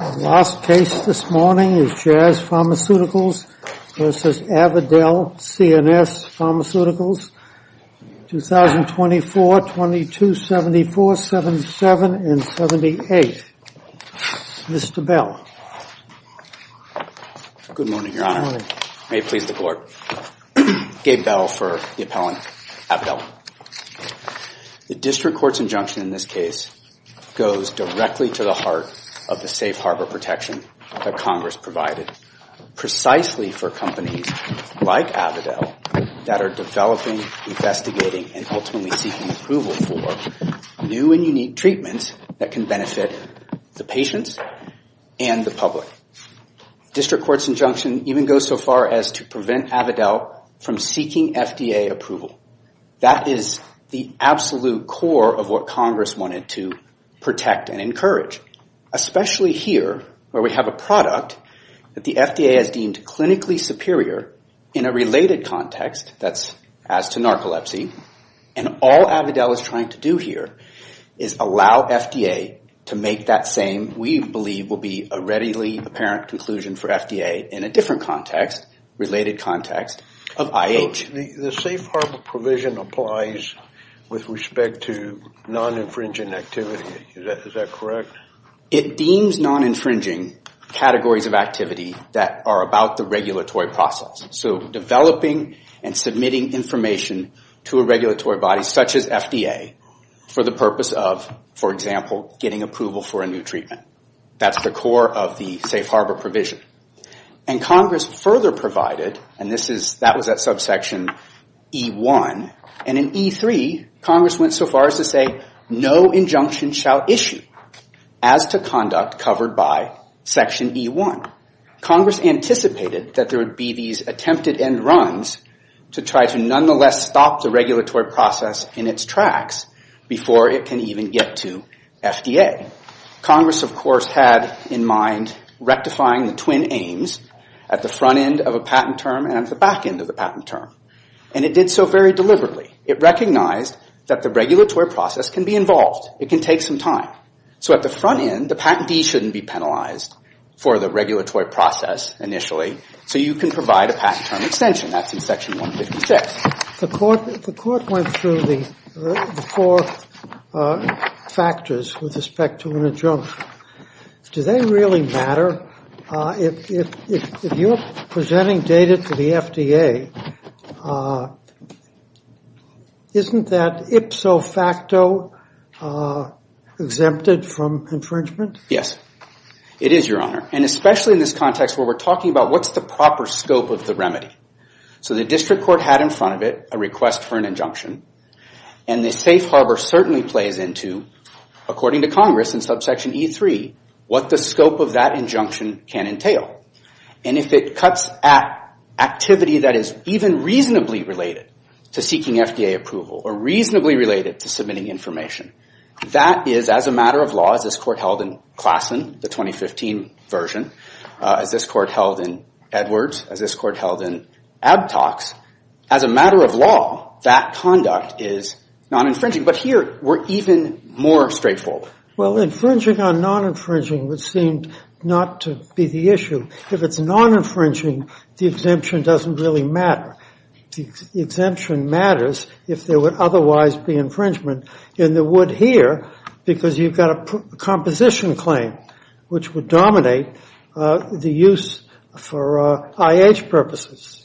Last case this morning is Jazz Pharmaceuticals v. Avadel CNS Pharmaceuticals, 2024-2274, 77 and 78, Mr. Bell. Good morning, Your Honor. May it please the Court. Gabe Bell for the appellant, Avadel. The District Court's injunction in this case goes directly to the heart of the safe harbor protection that Congress provided, precisely for companies like Avadel that are developing, investigating, and ultimately seeking approval for new and unique treatments that can benefit the patients and the public. District Court's injunction even goes so far as to prevent Avadel from seeking FDA approval. That is the absolute core of what Congress wanted to protect and encourage. Especially here, where we have a product that the FDA has deemed clinically superior in a related context, that's as to narcolepsy, and all Avadel is trying to do here is allow FDA to make that same, we believe will be a readily apparent conclusion for FDA in a different context, related context, of IH. The safe harbor provision applies with respect to non-infringing activity. Is that correct? It deems non-infringing categories of activity that are about the regulatory process. So developing and submitting information to a regulatory body such as FDA for the purpose of, for example, getting approval for a new treatment. That's the core of the safe harbor provision. And Congress further provided, and that was at subsection E1, and in E3, Congress went so far as to say no injunction shall issue as to conduct covered by section E1. Congress anticipated that there would be these attempted end runs to try to nonetheless stop the regulatory process in its tracks before it can even get to FDA. Congress, of course, had in mind rectifying the twin aims at the front end of a patent term and at the back end of the patent term. And it did so very deliberately. It recognized that the regulatory process can be involved. It can take some time. So at the front end, the patentee shouldn't be penalized for the regulatory process initially. So you can provide a patent term extension. That's in section 156. The court went through the four factors with respect to an injunction. Does that really matter? If you're presenting data to the FDA, isn't that ipso facto exempted from infringement? Yes, it is, Your Honor. And especially in this context where we're talking about what's the proper scope of the remedy. So the district court had in front of it a request for an injunction. And the safe harbor certainly plays into, according to Congress in subsection E3, what the scope of that injunction can entail. And if it cuts at activity that is even reasonably related to seeking FDA approval or reasonably related to submitting information, that is, as a matter of law, as this court held in Klassen, the 2015 version, as this court held in Edwards, as this court held in Abtox, as a matter of law, that conduct is non-infringing. But here, we're even more straightforward. Well, infringing on non-infringing would seem not to be the issue. If it's non-infringing, the exemption doesn't really matter. The exemption matters if there would otherwise be infringement. And there would here because you've got a composition claim, which would dominate the use for IH purposes.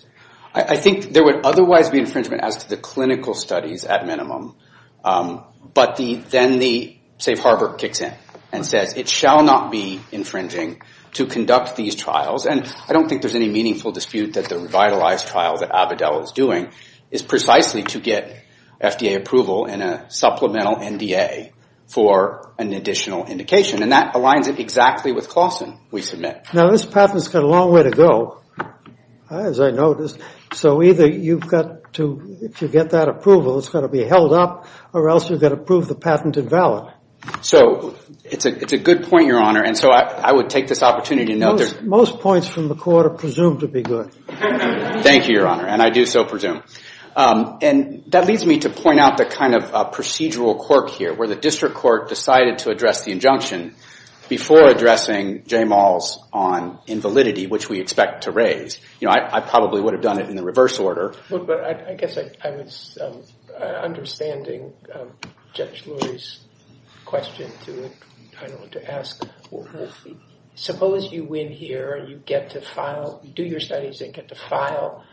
I think there would otherwise be infringement as to the clinical studies at minimum. But then the safe harbor kicks in and says it shall not be infringing to conduct these trials. And I don't think there's any meaningful dispute that the revitalized trial that Avidel is doing is precisely to get FDA approval and a supplemental NDA for an additional indication. And that aligns exactly with Klassen, we submit. Now, this patent's got a long way to go, as I noticed. So either you've got to, if you get that approval, it's got to be held up, or else you've got to prove the patent invalid. So it's a good point, Your Honor. And so I would take this opportunity to note that the comments from the court are presumed to be good. Thank you, Your Honor. And I do so presume. And that leads me to point out the kind of procedural quirk here, where the district court decided to address the injunction before addressing J. Maul's on invalidity, which we expect to raise. I probably would have done it in the reverse order. But I guess I was understanding Judge Lurie's question to ask. Suppose you win here and you get to file, do your studies and get to file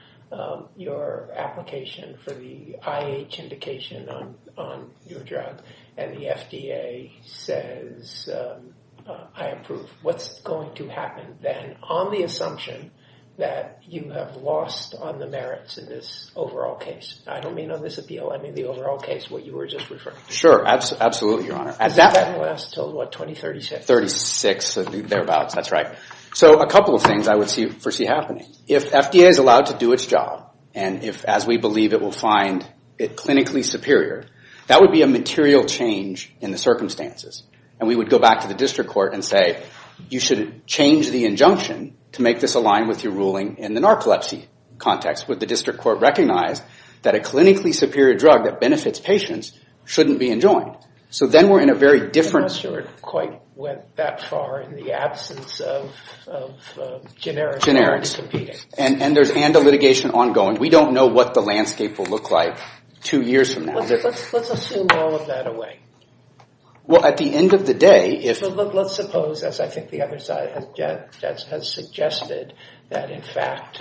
your application for the IH indication on your drug, and the FDA says, I approve. What's going to happen then on the assumption that you have lost on the merits in this overall case? I don't mean on this appeal, I mean the overall case, what you were just referring to. Sure, absolutely, Your Honor. At that point, I was told, what, 2036. 36 or thereabouts, that's right. So a couple of things I would foresee happening. If FDA is allowed to do its job, and if, as we believe, it will find it clinically superior, that would be a material change in the circumstances. And we would go back to the district court and say, you should change the injunction to make this align with your ruling in the narcolepsy context. Would the district court recognize that a clinically superior drug that benefits patients shouldn't be enjoined? So then we're in a very different... I'm not sure it quite went that far in the absence of generics. Generics. And there's litigation ongoing. We don't know what the landscape will look like two years from now. Let's assume all of that away. Well, at the end of the day, if... Let's suppose, as I think the other side has suggested, that in fact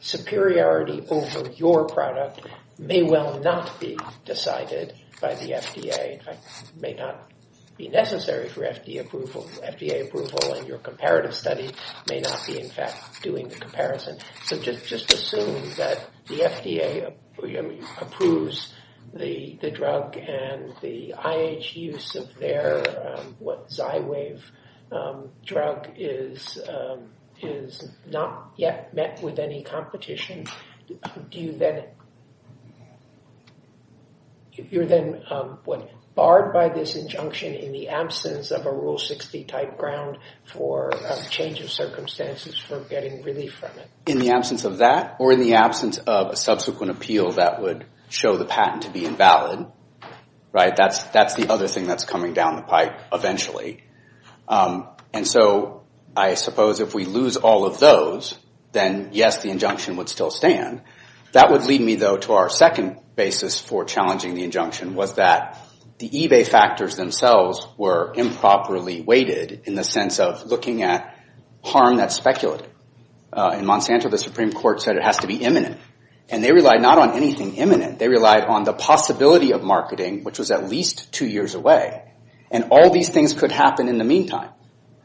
superiority over your product may well not be decided by the FDA. In fact, it may not be necessary for FDA approval. FDA approval in your comparative study may not be, in fact, doing the comparison. So just assume that the FDA approves the drug and the IH use of their Zywave drug is not yet met with any competition. You're then barred by this injunction in the absence of a Rule 60-type ground for change of circumstances for getting relief from it. In the absence of that or in the absence of a subsequent appeal that would show the patent to be invalid. That's the other thing that's coming down the pipe eventually. And so I suppose if we lose all of those, then yes, the injunction would still stand. That would lead me, though, to our second basis for challenging the injunction was that the eBay factors themselves were improperly weighted in the sense of looking at harm that's speculated. In Monsanto, the Supreme Court said it has to be imminent. And they relied not on anything imminent. They relied on the possibility of marketing, which was at least two years away. And all these things could happen in the meantime.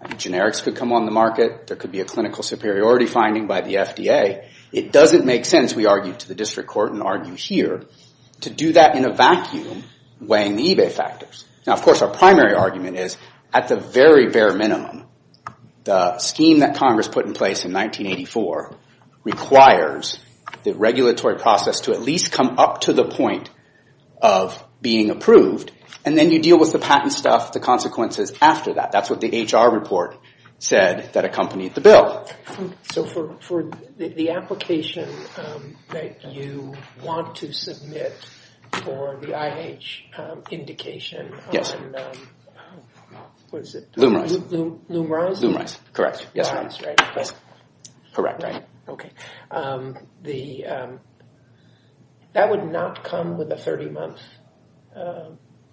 Generics could come on the market. There could be a clinical superiority finding by the FDA. It doesn't make sense, we argued to the district court and argue here, to do that in a vacuum weighing the eBay factors. Now, of course, our primary argument is at the very bare minimum, the scheme that Congress put in place in 1984 requires the regulatory process to at least come up to the point of being approved. And then you deal with the patent stuff, the consequences after that. That's what the HR report said that accompanied the bill. So for the application that you want to submit for the IH indication on, what is it? Lumerize? Lumerize, correct. Lumerize, right. Correct. Okay. That would not come with a 30-month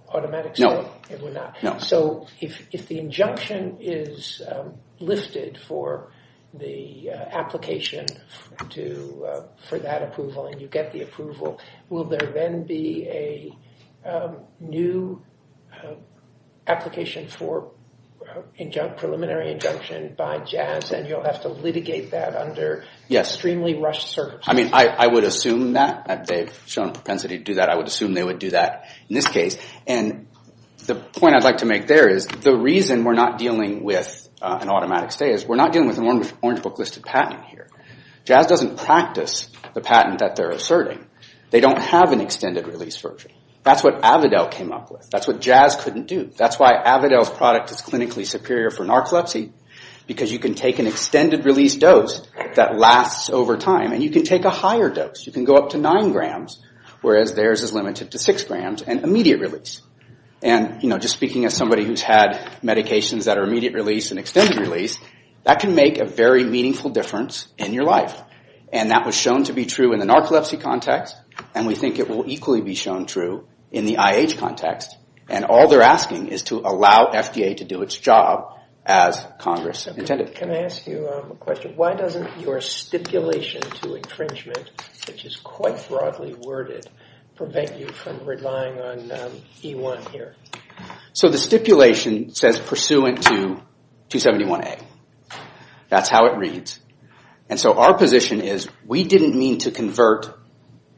automatic strike? No. It would not? So if the injunction is lifted for the application for that approval and you get the approval, will there then be a new application for preliminary injunction by Jazz and you'll have to litigate that under extremely rushed circumstances? I mean, I would assume that. They've shown propensity to do that. I would assume they would do that in this case. The point I'd like to make there is the reason we're not dealing with an automatic stay is we're not dealing with an Orange Book listed patent here. Jazz doesn't practice the patent that they're asserting. They don't have an extended release version. That's what Avidel came up with. That's what Jazz couldn't do. That's why Avidel's product is clinically superior for narcolepsy because you can take an extended release dose that lasts over time and you can take a higher dose. You can go up to 9 grams whereas theirs is limited to 6 grams and immediate release. And, you know, just speaking as somebody who's had medications that are immediate release and extended release, that can make a very meaningful difference in your life. And that was shown to be true in the narcolepsy context and we think it will equally be shown true in the IH context. And all they're asking is to allow FDA to do its job as Congress intended. Can I ask you a question? Why doesn't your stipulation to infringement, which is quite broadly worded, prevent you from relying on E1 here? So the stipulation says pursuant to 271A. That's how it reads. And so our position is we didn't mean to convert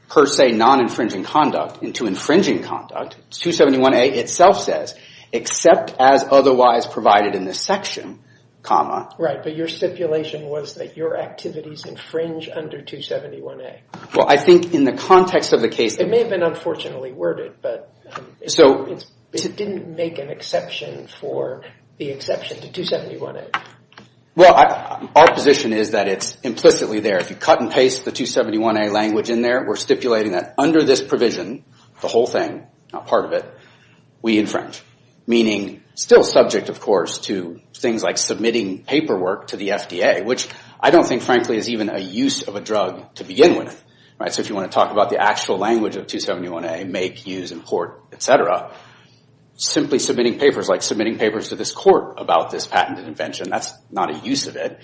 per se non-infringing conduct into infringing conduct. 271A itself says except as otherwise provided in this section, comma. Right, but your stipulation was that your activities infringe under 271A. Well, I think in the context of the case... It may have been unfortunately worded, but it didn't make an exception for the exception to 271A. Well, our position is that it's implicitly there. If you cut and paste the 271A language in there, we're stipulating that under this provision, the whole thing, not part of it, we infringe. Meaning still subject, of course, to things like submitting paperwork to the FDA, which I don't think frankly is even a use of a drug to begin with. So if you want to talk about the actual language of 271A, make, use, import, et cetera, simply submitting papers like submitting papers to this court about this patent invention, that's not a use of it.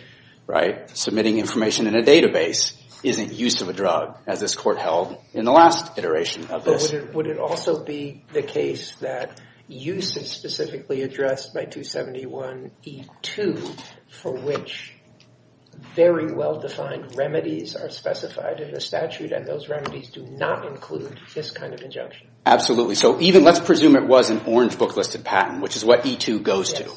Submitting information in a database isn't use of a drug as this court held in the last iteration of this. Would it also be the case that use is specifically addressed by 271E2 for which very well-defined remedies are specified in the statute and those remedies do not include this kind of injunction? Absolutely. So even, let's presume it was an orange book-listed patent, which is what E2 goes to.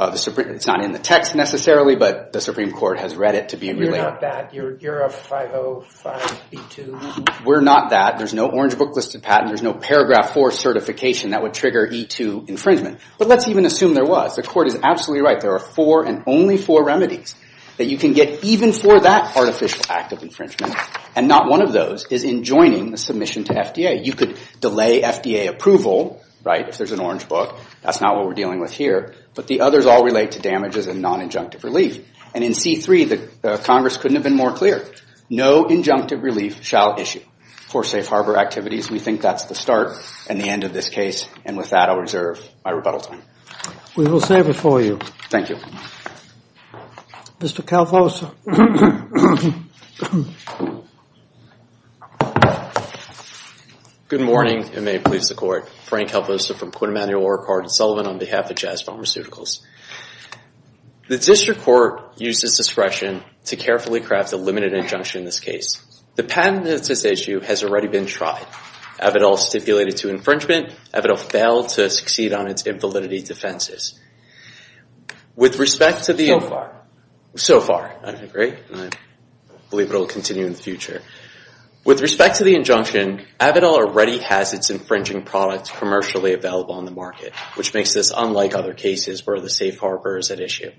It's not in the text necessarily, but the Supreme Court has read it to be related. You're not that. You're a 505E2. We're not that. There's no orange book-listed patent. There's no paragraph 4 certification that would trigger E2 infringement. But let's even assume there was. The court is absolutely right. There are four and only four remedies that you can get even for that artificial act of infringement, and not one of those is in joining the submission to FDA. You could delay FDA approval, right, if there's an orange book. That's not what we're dealing with here. But the others all relate to damages and non-injunctive relief. And in C3, the Congress couldn't have been more clear. No injunctive relief shall issue for safe harbor activities. We think that's the start and the end of this case, and with that, I'll reserve my rebuttal time. We will save it for you. Thank you. Mr. Calvoso. Good morning, and may it please the Court. Frank Calvoso from Quinn Emanuel, Orecard, and Sullivan on behalf of Jazz Farm Recidivals. The district court used its discretion to carefully craft a limited injunction in this case. The patent that's at issue has already been tried. Avidil is stipulated to infringement. Avidil failed to succeed on its invalidity defenses. With respect to the... So far. So far, I agree, and I believe it will continue in the future. With respect to the injunction, Avidil already has its infringing products commercially available on the market, which makes this unlike other cases where the safe harbor is at issue.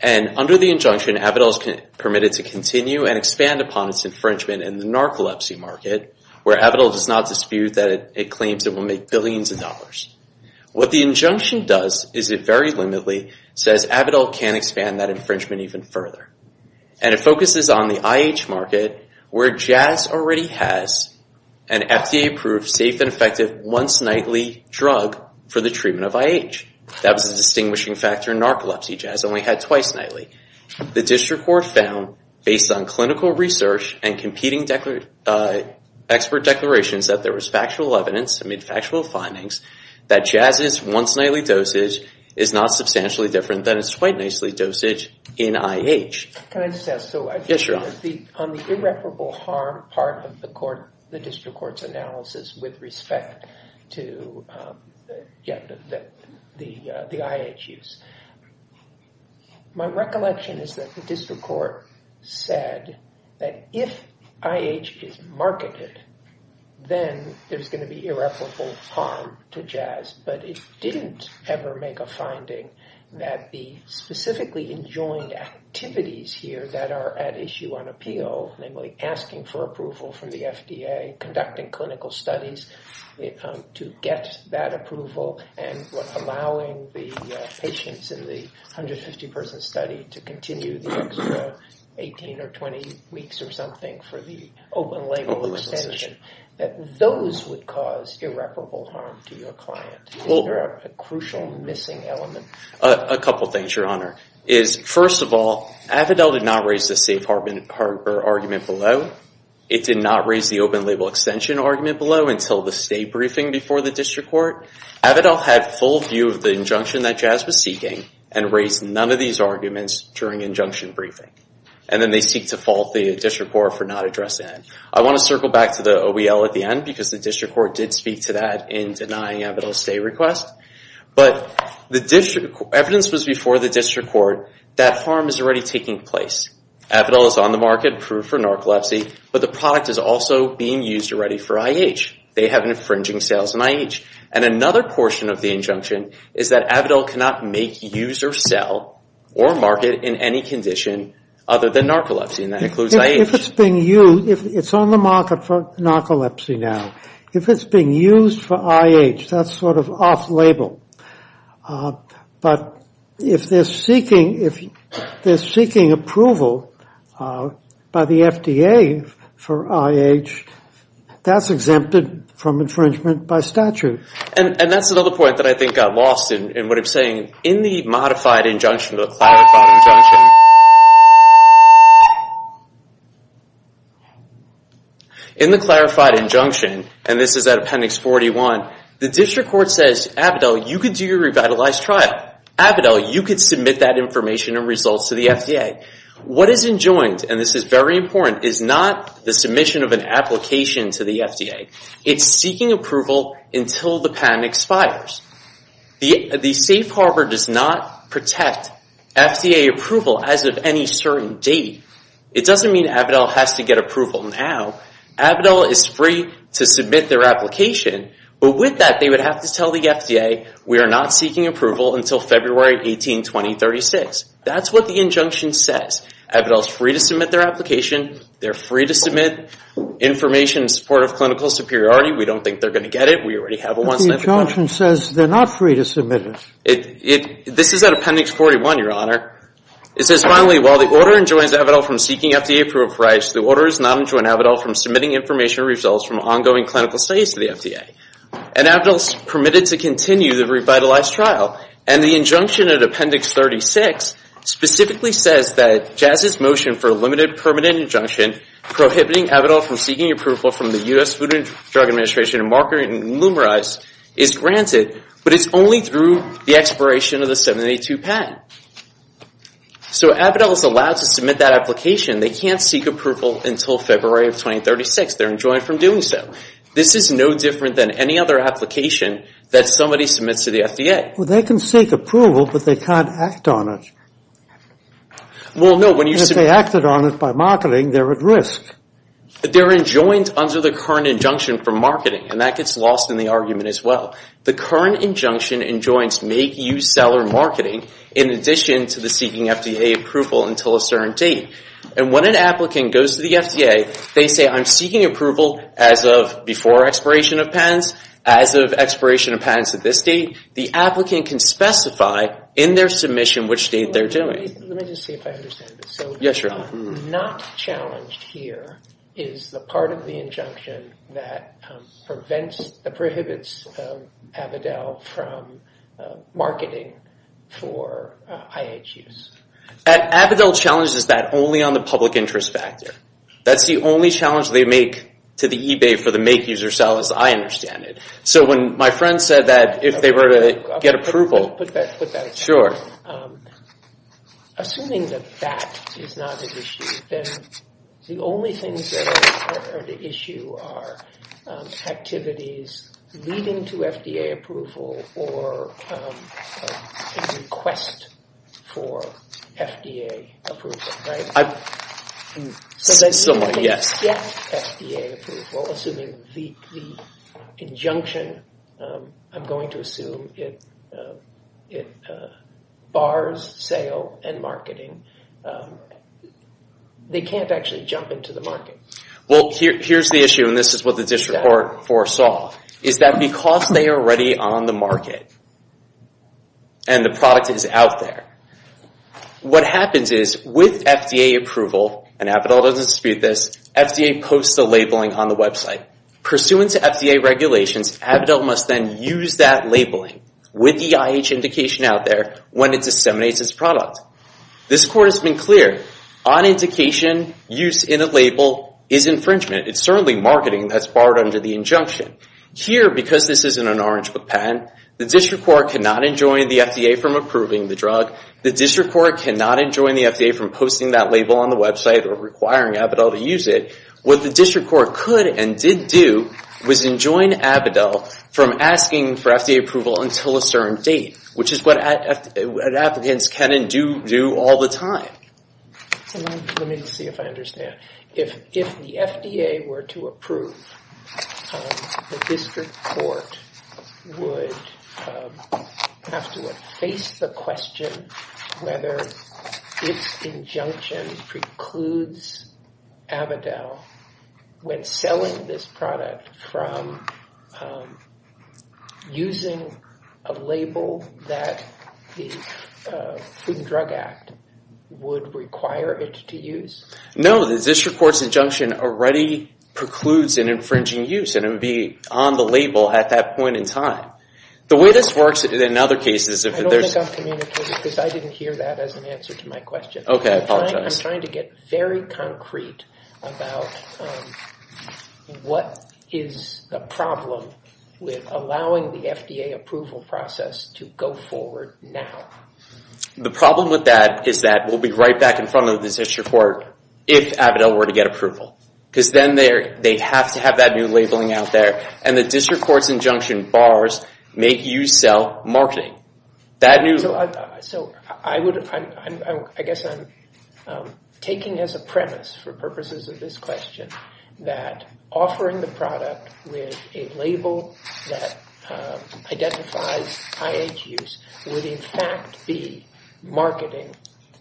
And under the injunction, Avidil is permitted to continue and expand upon its infringement in the narcolepsy market, where Avidil does not dispute that it claims it will make billions of dollars. What the injunction does is it very limitedly says Avidil can't expand that infringement even further. And it focuses on the IH market, where Jazz already has an FDA-approved, safe and effective once-nightly drug for the treatment of IH. That was a distinguishing factor in narcolepsy. Jazz only had twice nightly. The district court found, based on clinical research and competing expert declarations, that there was factual evidence, I mean factual findings, that Jazz's once-nightly dosage is not substantially different than its twice-nightly dosage in IH. Can I just ask? Yes, Your Honor. On the irreparable harm part of the district court's analysis with respect to the IH use, my recollection is that the district court said that if IH is marketed, then there's going to be irreparable harm to Jazz. But it didn't ever make a finding that the specifically enjoined activities here that are at issue on appeal, namely asking for approval from the FDA, conducting clinical studies to get that approval, and allowing the patients in the 150-person study to continue the extra 18 or 20 weeks or something for the open-label extension, that those would cause irreparable harm to your client. Is there a crucial missing element? A couple things, Your Honor. First of all, Avidel did not raise the safe harbor argument below. It did not raise the open-label extension argument below until the state briefing before the district court. Avidel had full view of the injunction that Jazz was seeking and raised none of these arguments during injunction briefing. And then they seek to fault the district court for not addressing it. I want to circle back to the OEL at the end because the district court did speak to that in denying Avidel's stay request. But the evidence was before the district court that harm is already taking place. Avidel is on the market, approved for narcolepsy, but the product is also being used already for IH. They have infringing sales in IH. And another portion of the injunction is that Avidel cannot make, use, or sell or market in any condition other than narcolepsy, and that includes IH. If it's being used, it's on the market for narcolepsy now. If it's being used for IH, that's sort of off-label. But if they're seeking approval by the FDA for IH, that's exempted from infringement by statute. And that's another point that I think I lost in what I'm saying. In the modified injunction, the clarified injunction, in the clarified injunction, and this is at Appendix 41, the district court says, Avidel, you can do your revitalized trial. Avidel, you can submit that information and results to the FDA. What is enjoined, and this is very important, is not the submission of an application to the FDA. It's seeking approval until the patent expires. The safe harbor does not protect FDA approval as of any certain date. It doesn't mean Avidel has to get approval now. Avidel is free to submit their application, but with that, they would have to tell the FDA, we are not seeking approval until February 18, 2036. That's what the injunction says. Avidel is free to submit their application. They're free to submit information in support of clinical superiority. We don't think they're going to get it. We already have a one-sided claim. The injunction says they're not free to submit it. This is at Appendix 41, Your Honor. It says, finally, while the order enjoins Avidel from seeking FDA approval for rights, the order does not enjoin Avidel from submitting information or results from ongoing clinical studies to the FDA. And Avidel is permitted to continue the revitalized trial. And the injunction at Appendix 36 specifically says that Jazz's motion for a limited permanent injunction prohibiting Avidel from seeking approval from the U.S. Food and Drug Administration and marketing and lumerize is granted, but it's only through the expiration of the 782 patent. So Avidel is allowed to submit that application. They can't seek approval until February of 2036. They're enjoined from doing so. This is no different than any other application that somebody submits to the FDA. Well, they can seek approval, but they can't act on it. Well, no, when you... If they acted on it by marketing, they're at risk. But they're enjoined under the current injunction for marketing, and that gets lost in the argument as well. The current injunction enjoins make-use seller marketing in addition to the seeking FDA approval until a certain date. And when an applicant goes to the FDA, they say, I'm seeking approval as of before expiration of patents, as of expiration of patents at this date. The applicant can specify in their submission which date they're doing it. Let me just see if I understand this. So not challenged here is the part of the injunction that prohibits Avidel from marketing for IH use. Avidel challenges that only on the public interest factor. That's the only challenge they make to the eBay for the make-user sellers. I understand it. So when my friend said that if they were to get approval... Put that aside. Assuming that that is not an issue, then the only things that are the issue are activities leading to FDA approval or a request for FDA approval, right? Somewhat, yes. If they get FDA approval, assuming the injunction, I'm going to assume it bars sale and marketing, they can't actually jump into the market. Well, here's the issue, and this is what the district court foresaw, is that because they are already on the market and the product is out there, what happens is with FDA approval, and Avidel doesn't dispute this, FDA posts a labeling on the website. Pursuant to FDA regulations, Avidel must then use that labeling with the IH indication out there when it disseminates its product. This court has been clear. On indication, use in a label is infringement. It's certainly marketing that's barred under the injunction. Here, because this isn't an Orange Book patent, the district court cannot enjoin the FDA from approving the drug. The district court cannot enjoin the FDA from posting that label on the website or requiring Avidel to use it. What the district court could and did do was enjoin Avidel from asking for FDA approval until a certain date, which is what applicants can and do all the time. Let me see if I understand. If the FDA were to approve, the district court would have to face the question whether its injunction precludes Avidel when selling this product from using a label that the Food and Drug Act would require it to use? No, the district court's injunction already precludes an infringing use and it would be on the label at that point in time. The way this works in other cases... I don't think I'm communicating because I didn't hear that as an answer to my question. I'm trying to get very concrete about what is the problem with allowing the FDA approval process to go forward now? The problem with that is that we'll be right back in front of the district court if Avidel were to get approval because then they have to have that new labeling out there and the district court's injunction bars make you sell marketing. I guess I'm taking as a premise for purposes of this question that offering the product with a label that identifies IH use would in fact be marketing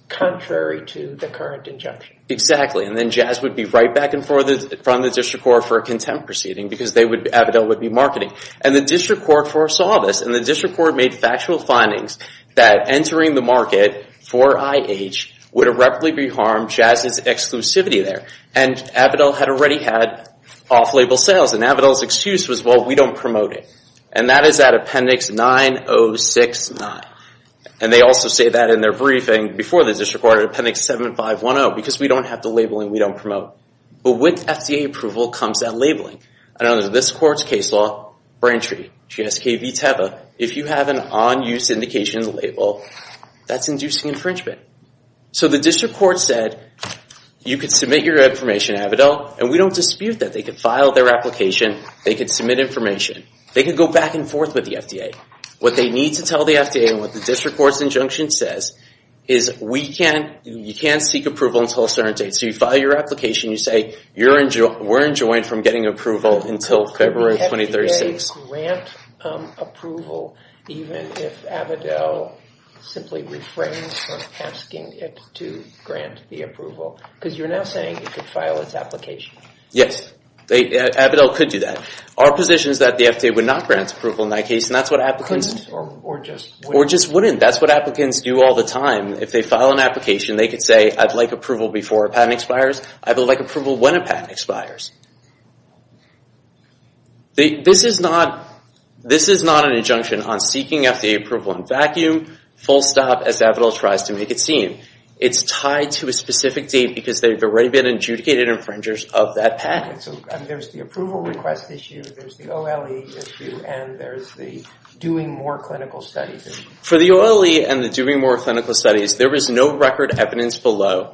contrary to the current injunction. Exactly, and then Jazz would be right back in front of the district court for a contempt proceeding because Avidel would be marketing. And the district court foresaw this and the district court made factual findings that entering the market for IH would irreparably harm Jazz's exclusivity there. And Avidel had already had off-label sales and Avidel's excuse was we don't promote it. And that is at Appendix 9069. And they also say that in their briefing before the district court at Appendix 7510 because we don't have the labeling we don't promote. But with FDA approval comes that labeling. I know that this court's case law for entry, GSK v. Teva, if you have an on-use indication label that's inducing infringement. So the district court said you could submit your information, Avidel, and we don't dispute that. They could file their application. They could submit information. They could go back and forth with the FDA. What they need to tell the FDA and what the district court's injunction says is we can't, you can't seek approval until a certain date. So you file your application, you say we're enjoined from getting approval until February 2036. We have to grant approval even if Avidel simply refrains from asking it to grant the approval. Because you're now saying you could file its application. Yes. Avidel could do that. Our position is that the FDA would not grant approval in that case. Or just wouldn't. That's what applicants do all the time. If they file an application, they could say I'd like approval before a patent expires. I'd like approval when a patent expires. This is not an injunction on seeking FDA approval in vacuum, full stop, as Avidel tries to make it seem. It's tied to a specific date because they've already been adjudicated infringers of that patent. So there's the approval request issue, there's the OLE issue, and there's the doing more clinical studies. For the OLE and the doing more clinical studies, there is no record evidence below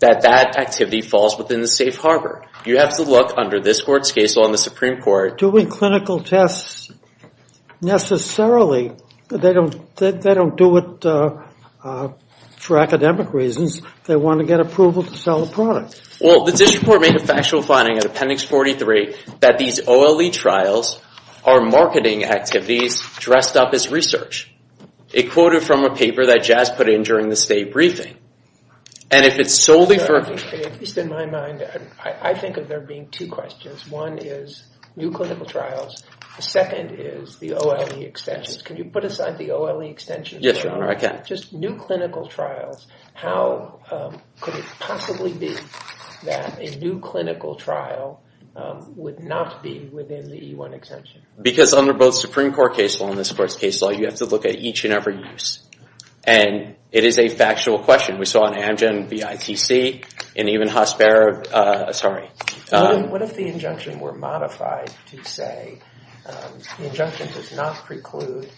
that that activity falls within the safe harbor. You have to look under this court's case on the Supreme Court. Doing clinical tests necessarily, they don't do it for academic reasons. They want to get approval to sell the product. Well, the district court made a factual finding at Appendix 43 that these OLE trials are marketing activities dressed up as research. It quoted from a paper that Jazz put in during the state briefing. And if it's solely for... At least in my mind, I think of there being two questions. One is new clinical trials. The second is the OLE extensions. Can you put aside the OLE extensions, John? Yes, Your Honor, I can. If you have just new clinical trials, how could it possibly be that a new clinical trial would not be within the E-1 extension? Because under both Supreme Court case law and this court's case law, you have to look at each and every use. And it is a factual question. We saw in Amgen, BITC, and even Hasbara, sorry. What if the injunction were modified to say the injunction does not preclude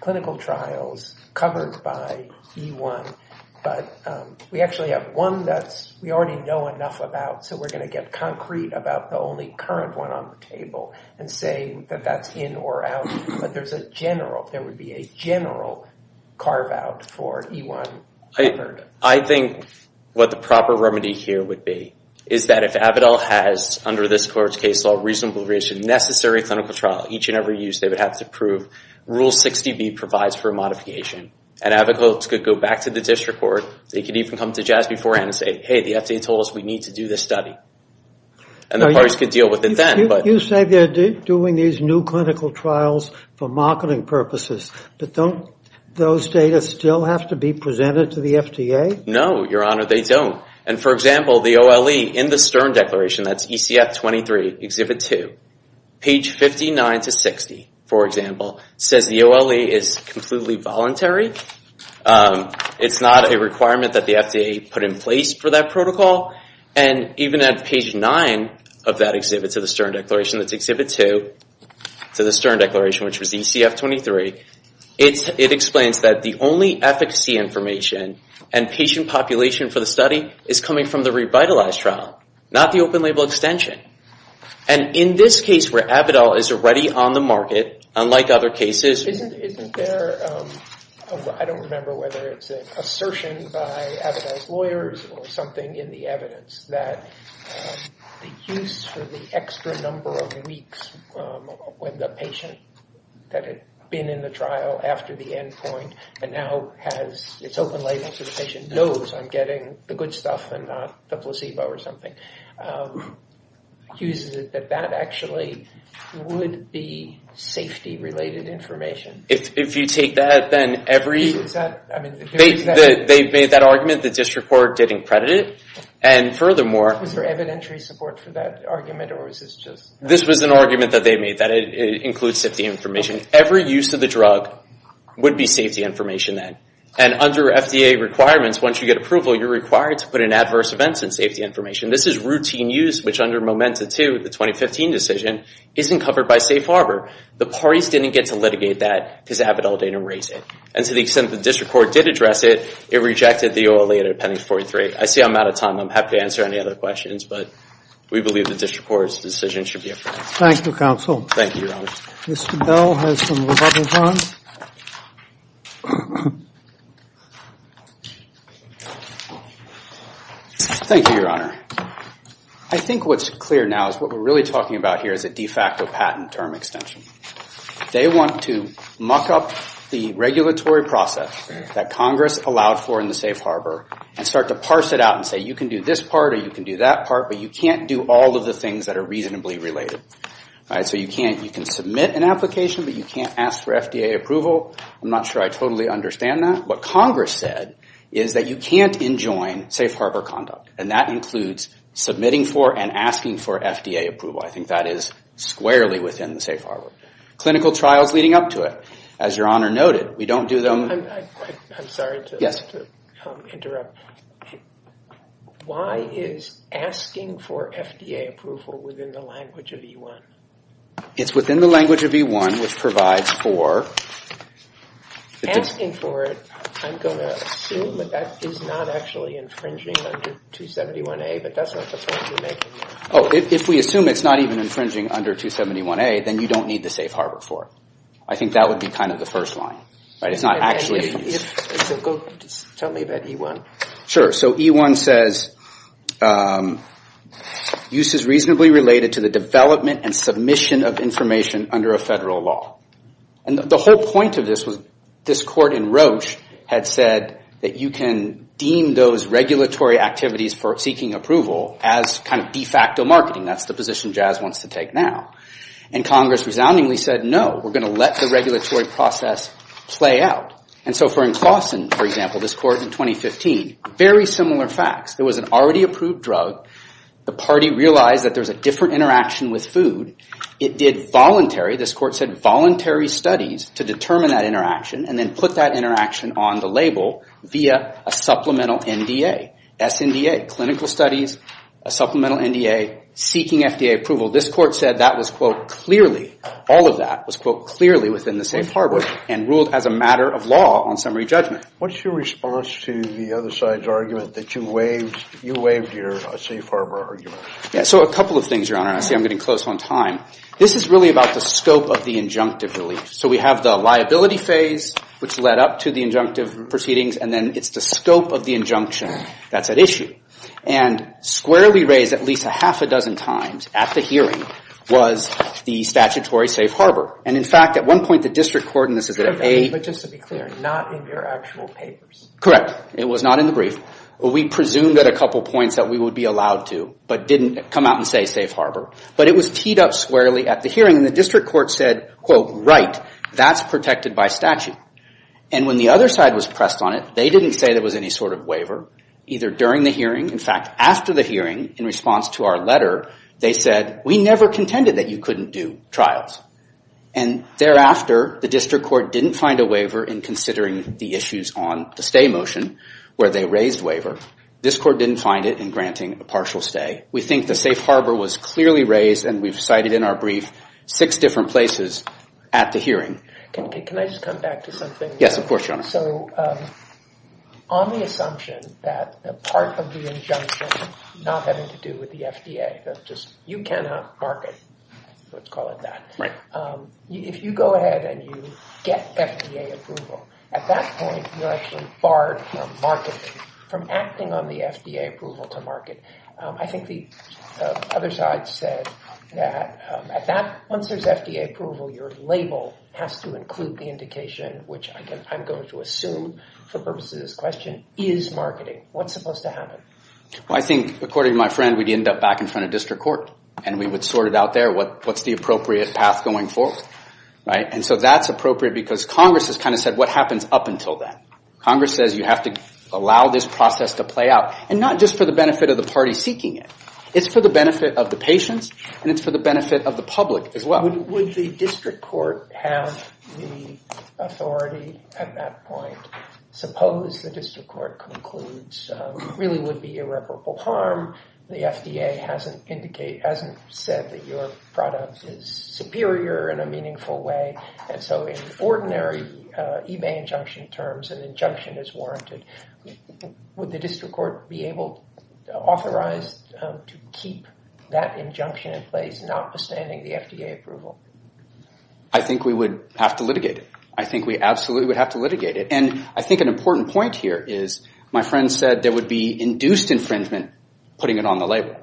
clinical trials covered by E-1, but we actually have one that we already know enough about, so we're going to get concrete about the only current one on the table and say that that's in or out. But there's a general, there would be a general carve-out for E-1 covered. I think what the proper remedy here would be is that if Avidal has, under this court's case law, reasonable reason, necessary clinical trial each and every use, they would have to prove Rule 60B provides for a modification. And advocates could go back to the district court. They could even come to Jazz beforehand and say, hey, the FDA told us we need to do this study. And the parties could deal with it then. You say they're doing these new clinical trials for marketing purposes. But don't those data still have to be presented to the FDA? No, Your Honor, they don't. And, for example, the OLE in the Stern Declaration, that's ECF 23, Exhibit 2, to 60, for example, says the OLE is completely voluntary. It's not a requirement that the FDA put in place for that protocol. And even at page 9 of that exhibit to the Stern Declaration, that's Exhibit 2 to the Stern Declaration, which was ECF 23, it explains that the only efficacy information and patient population for the study is coming from the revitalized trial, not the open-label extension. And in this case, where Avidal is already on the market, unlike other cases... Isn't there... I don't remember whether it's an assertion by Avidal's lawyers or something in the evidence that the use for the extra number of weeks when the patient that had been in the trial after the endpoint and now has its open label so the patient knows I'm getting the good stuff and not the placebo or something, accuses it that that actually would be safety-related information. If you take that, then every... They made that argument the district court didn't credit it. And furthermore... Was there evidentiary support for that argument? This was an argument that they made that it includes safety information. Every use of the drug would be safety information then. And under FDA requirements, once you get approval, you're required to put in adverse events and safety information. This is routine use, which under MOMENTA 2, the 2015 decision, isn't covered by Safe Harbor. The parties didn't get to litigate that because Avidal didn't erase it. And to the extent the district court did address it, it rejected the OLA under Appendix 43. I see I'm out of time. I'm happy to answer any other questions, but we believe the district court's decision should be affirmed. Thank you, counsel. Thank you, Your Honor. I think what's clear now is what we're really talking about here is a de facto patent term extension. They want to muck up the regulatory process that Congress allowed for in the Safe Harbor and start to parse it out and say you can do this part or you can do that part, but you can't do all of the things that are reasonably related. So you can submit an application, but you can't ask for FDA approval. I'm not sure I totally understand that. What Congress said was that that includes submitting for and asking for FDA approval. I think that is squarely within the Safe Harbor. Clinical trials leading up to it. As Your Honor noted, we don't do them... I'm sorry to interrupt. Why is asking for FDA approval within the language of E-1? It's within the language of E-1, which provides for... Asking for it, I'm going to assume that that is not actually infringing under 271A, but that's not the point you're making. Oh, if we assume it's not even infringing under 271A, then you don't need the Safe Harbor for it. I think that would be kind of the first line. It's not actually... Tell me about E-1. Sure. So E-1 says use is reasonably related to the development and submission of information under a federal law. And the whole point of this was that we can deem those regulatory activities for seeking approval as kind of de facto marketing. That's the position Jazz wants to take now. And Congress resoundingly said, no, we're going to let the regulatory process play out. And so for in Claussen, for example, this court in 2015, very similar facts. There was an already approved drug. The party realized that there was a different interaction with food. It did voluntary, a supplemental NDA, SNDA, clinical studies, a supplemental NDA, seeking FDA approval. This court said that was, quote, clearly, all of that was, quote, clearly within the Safe Harbor and ruled as a matter of law on summary judgment. What's your response to the other side's argument that you waived your Safe Harbor argument? Yeah, so a couple of things, Your Honor. I see I'm getting close on time. This is really about the scope of the injunctive relief. So we have the liability phase, which led up to the injunctive proceedings, and the scope of the injunction that's at issue. And squarely raised at least a half a dozen times at the hearing was the statutory Safe Harbor. And in fact, at one point, the district court, and this is at A. But just to be clear, not in your actual papers. Correct. It was not in the brief. We presumed at a couple points that we would be allowed to, but didn't come out and say Safe Harbor. But it was teed up squarely at the hearing, and the district court said, quote, right, that's protected by statute. And when the other side was pressed on it, they didn't say there was any sort of waiver, either during the hearing. In fact, after the hearing, in response to our letter, they said, we never contended that you couldn't do trials. And thereafter, the district court didn't find a waiver in considering the issues on the stay motion where they raised waiver. This court didn't find it in granting a partial stay. We think the Safe Harbor was clearly raised, and we've cited in our brief six different places at the hearing. Can I just come back to something? Yes, of course, Your Honor. So, on the assumption that the part of the injunction not having to do with the FDA, that just, you cannot market, let's call it that. Right. If you go ahead and you get FDA approval, at that point, you're actually barred from marketing, from acting on the FDA approval to market. I think the other side said that at that, once there's FDA approval, your label has to include the indication, which I'm going to assume for purposes of this question, is marketing. What's supposed to happen? I think, according to my friend, we'd end up back in front of district court, and we would sort it out there. What's the appropriate path going forward? And so that's appropriate because Congress has kind of said what happens up until then. Congress says you have to allow this process to play out, and not just for the benefit of the party seeking it. It's for the benefit of the patients, and it's for the benefit of the public as well. Would the district court have the authority at that point? Suppose the district court concludes it really would be irreparable harm, the FDA hasn't said that your product is superior in a meaningful way, and so in ordinary eBay injunction terms, an injunction is warranted. Would the district court be able to authorize to keep that injunction in place notwithstanding the FDA approval? I think we would have to litigate it. I think we absolutely would have to litigate it. And I think an important point here is my friend said there would be induced infringement putting it on the label.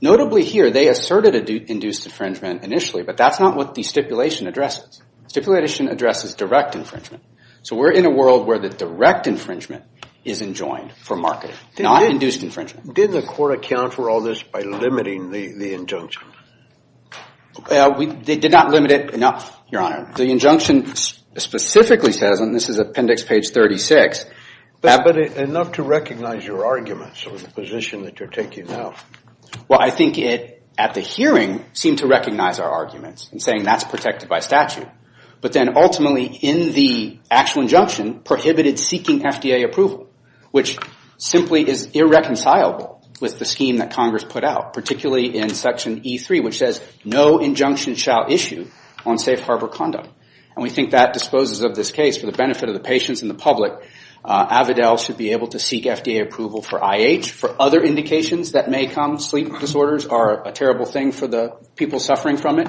Notably here, they asserted induced infringement initially, but that's not what the stipulation addresses. Stipulation addresses direct infringement. So we're in a world where the direct infringement is enjoined for marketing, not induced infringement. Did the court account for all this by limiting the injunction? They did not limit it enough, Your Honor. specifically says, and this is appendix page 36. But enough to recognize your arguments or the position that you're taking now. Well, I think it at the hearing seemed to recognize our arguments and saying that's protected by statute. But then ultimately in the actual injunction prohibited seeking FDA approval, which simply is irreconcilable with the scheme that Congress put out, particularly in section E3 which says no injunction shall issue on safe harbor conduct. And we think that disposes of this case for the benefit of the patients and the public. Avidel should be able to seek FDA approval for IH. For other indications that may come, sleep disorders are a terrible thing for the people suffering from it.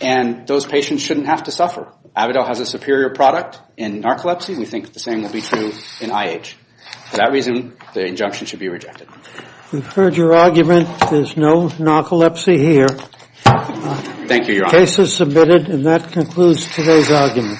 And those patients shouldn't have to suffer. Avidel has a superior product in narcolepsy and we think the same will be true in IH. For that reason, the injunction should be rejected. We've heard your argument. There's no narcolepsy here. Thank you, Your Honor. The case is submitted and that concludes today's argument.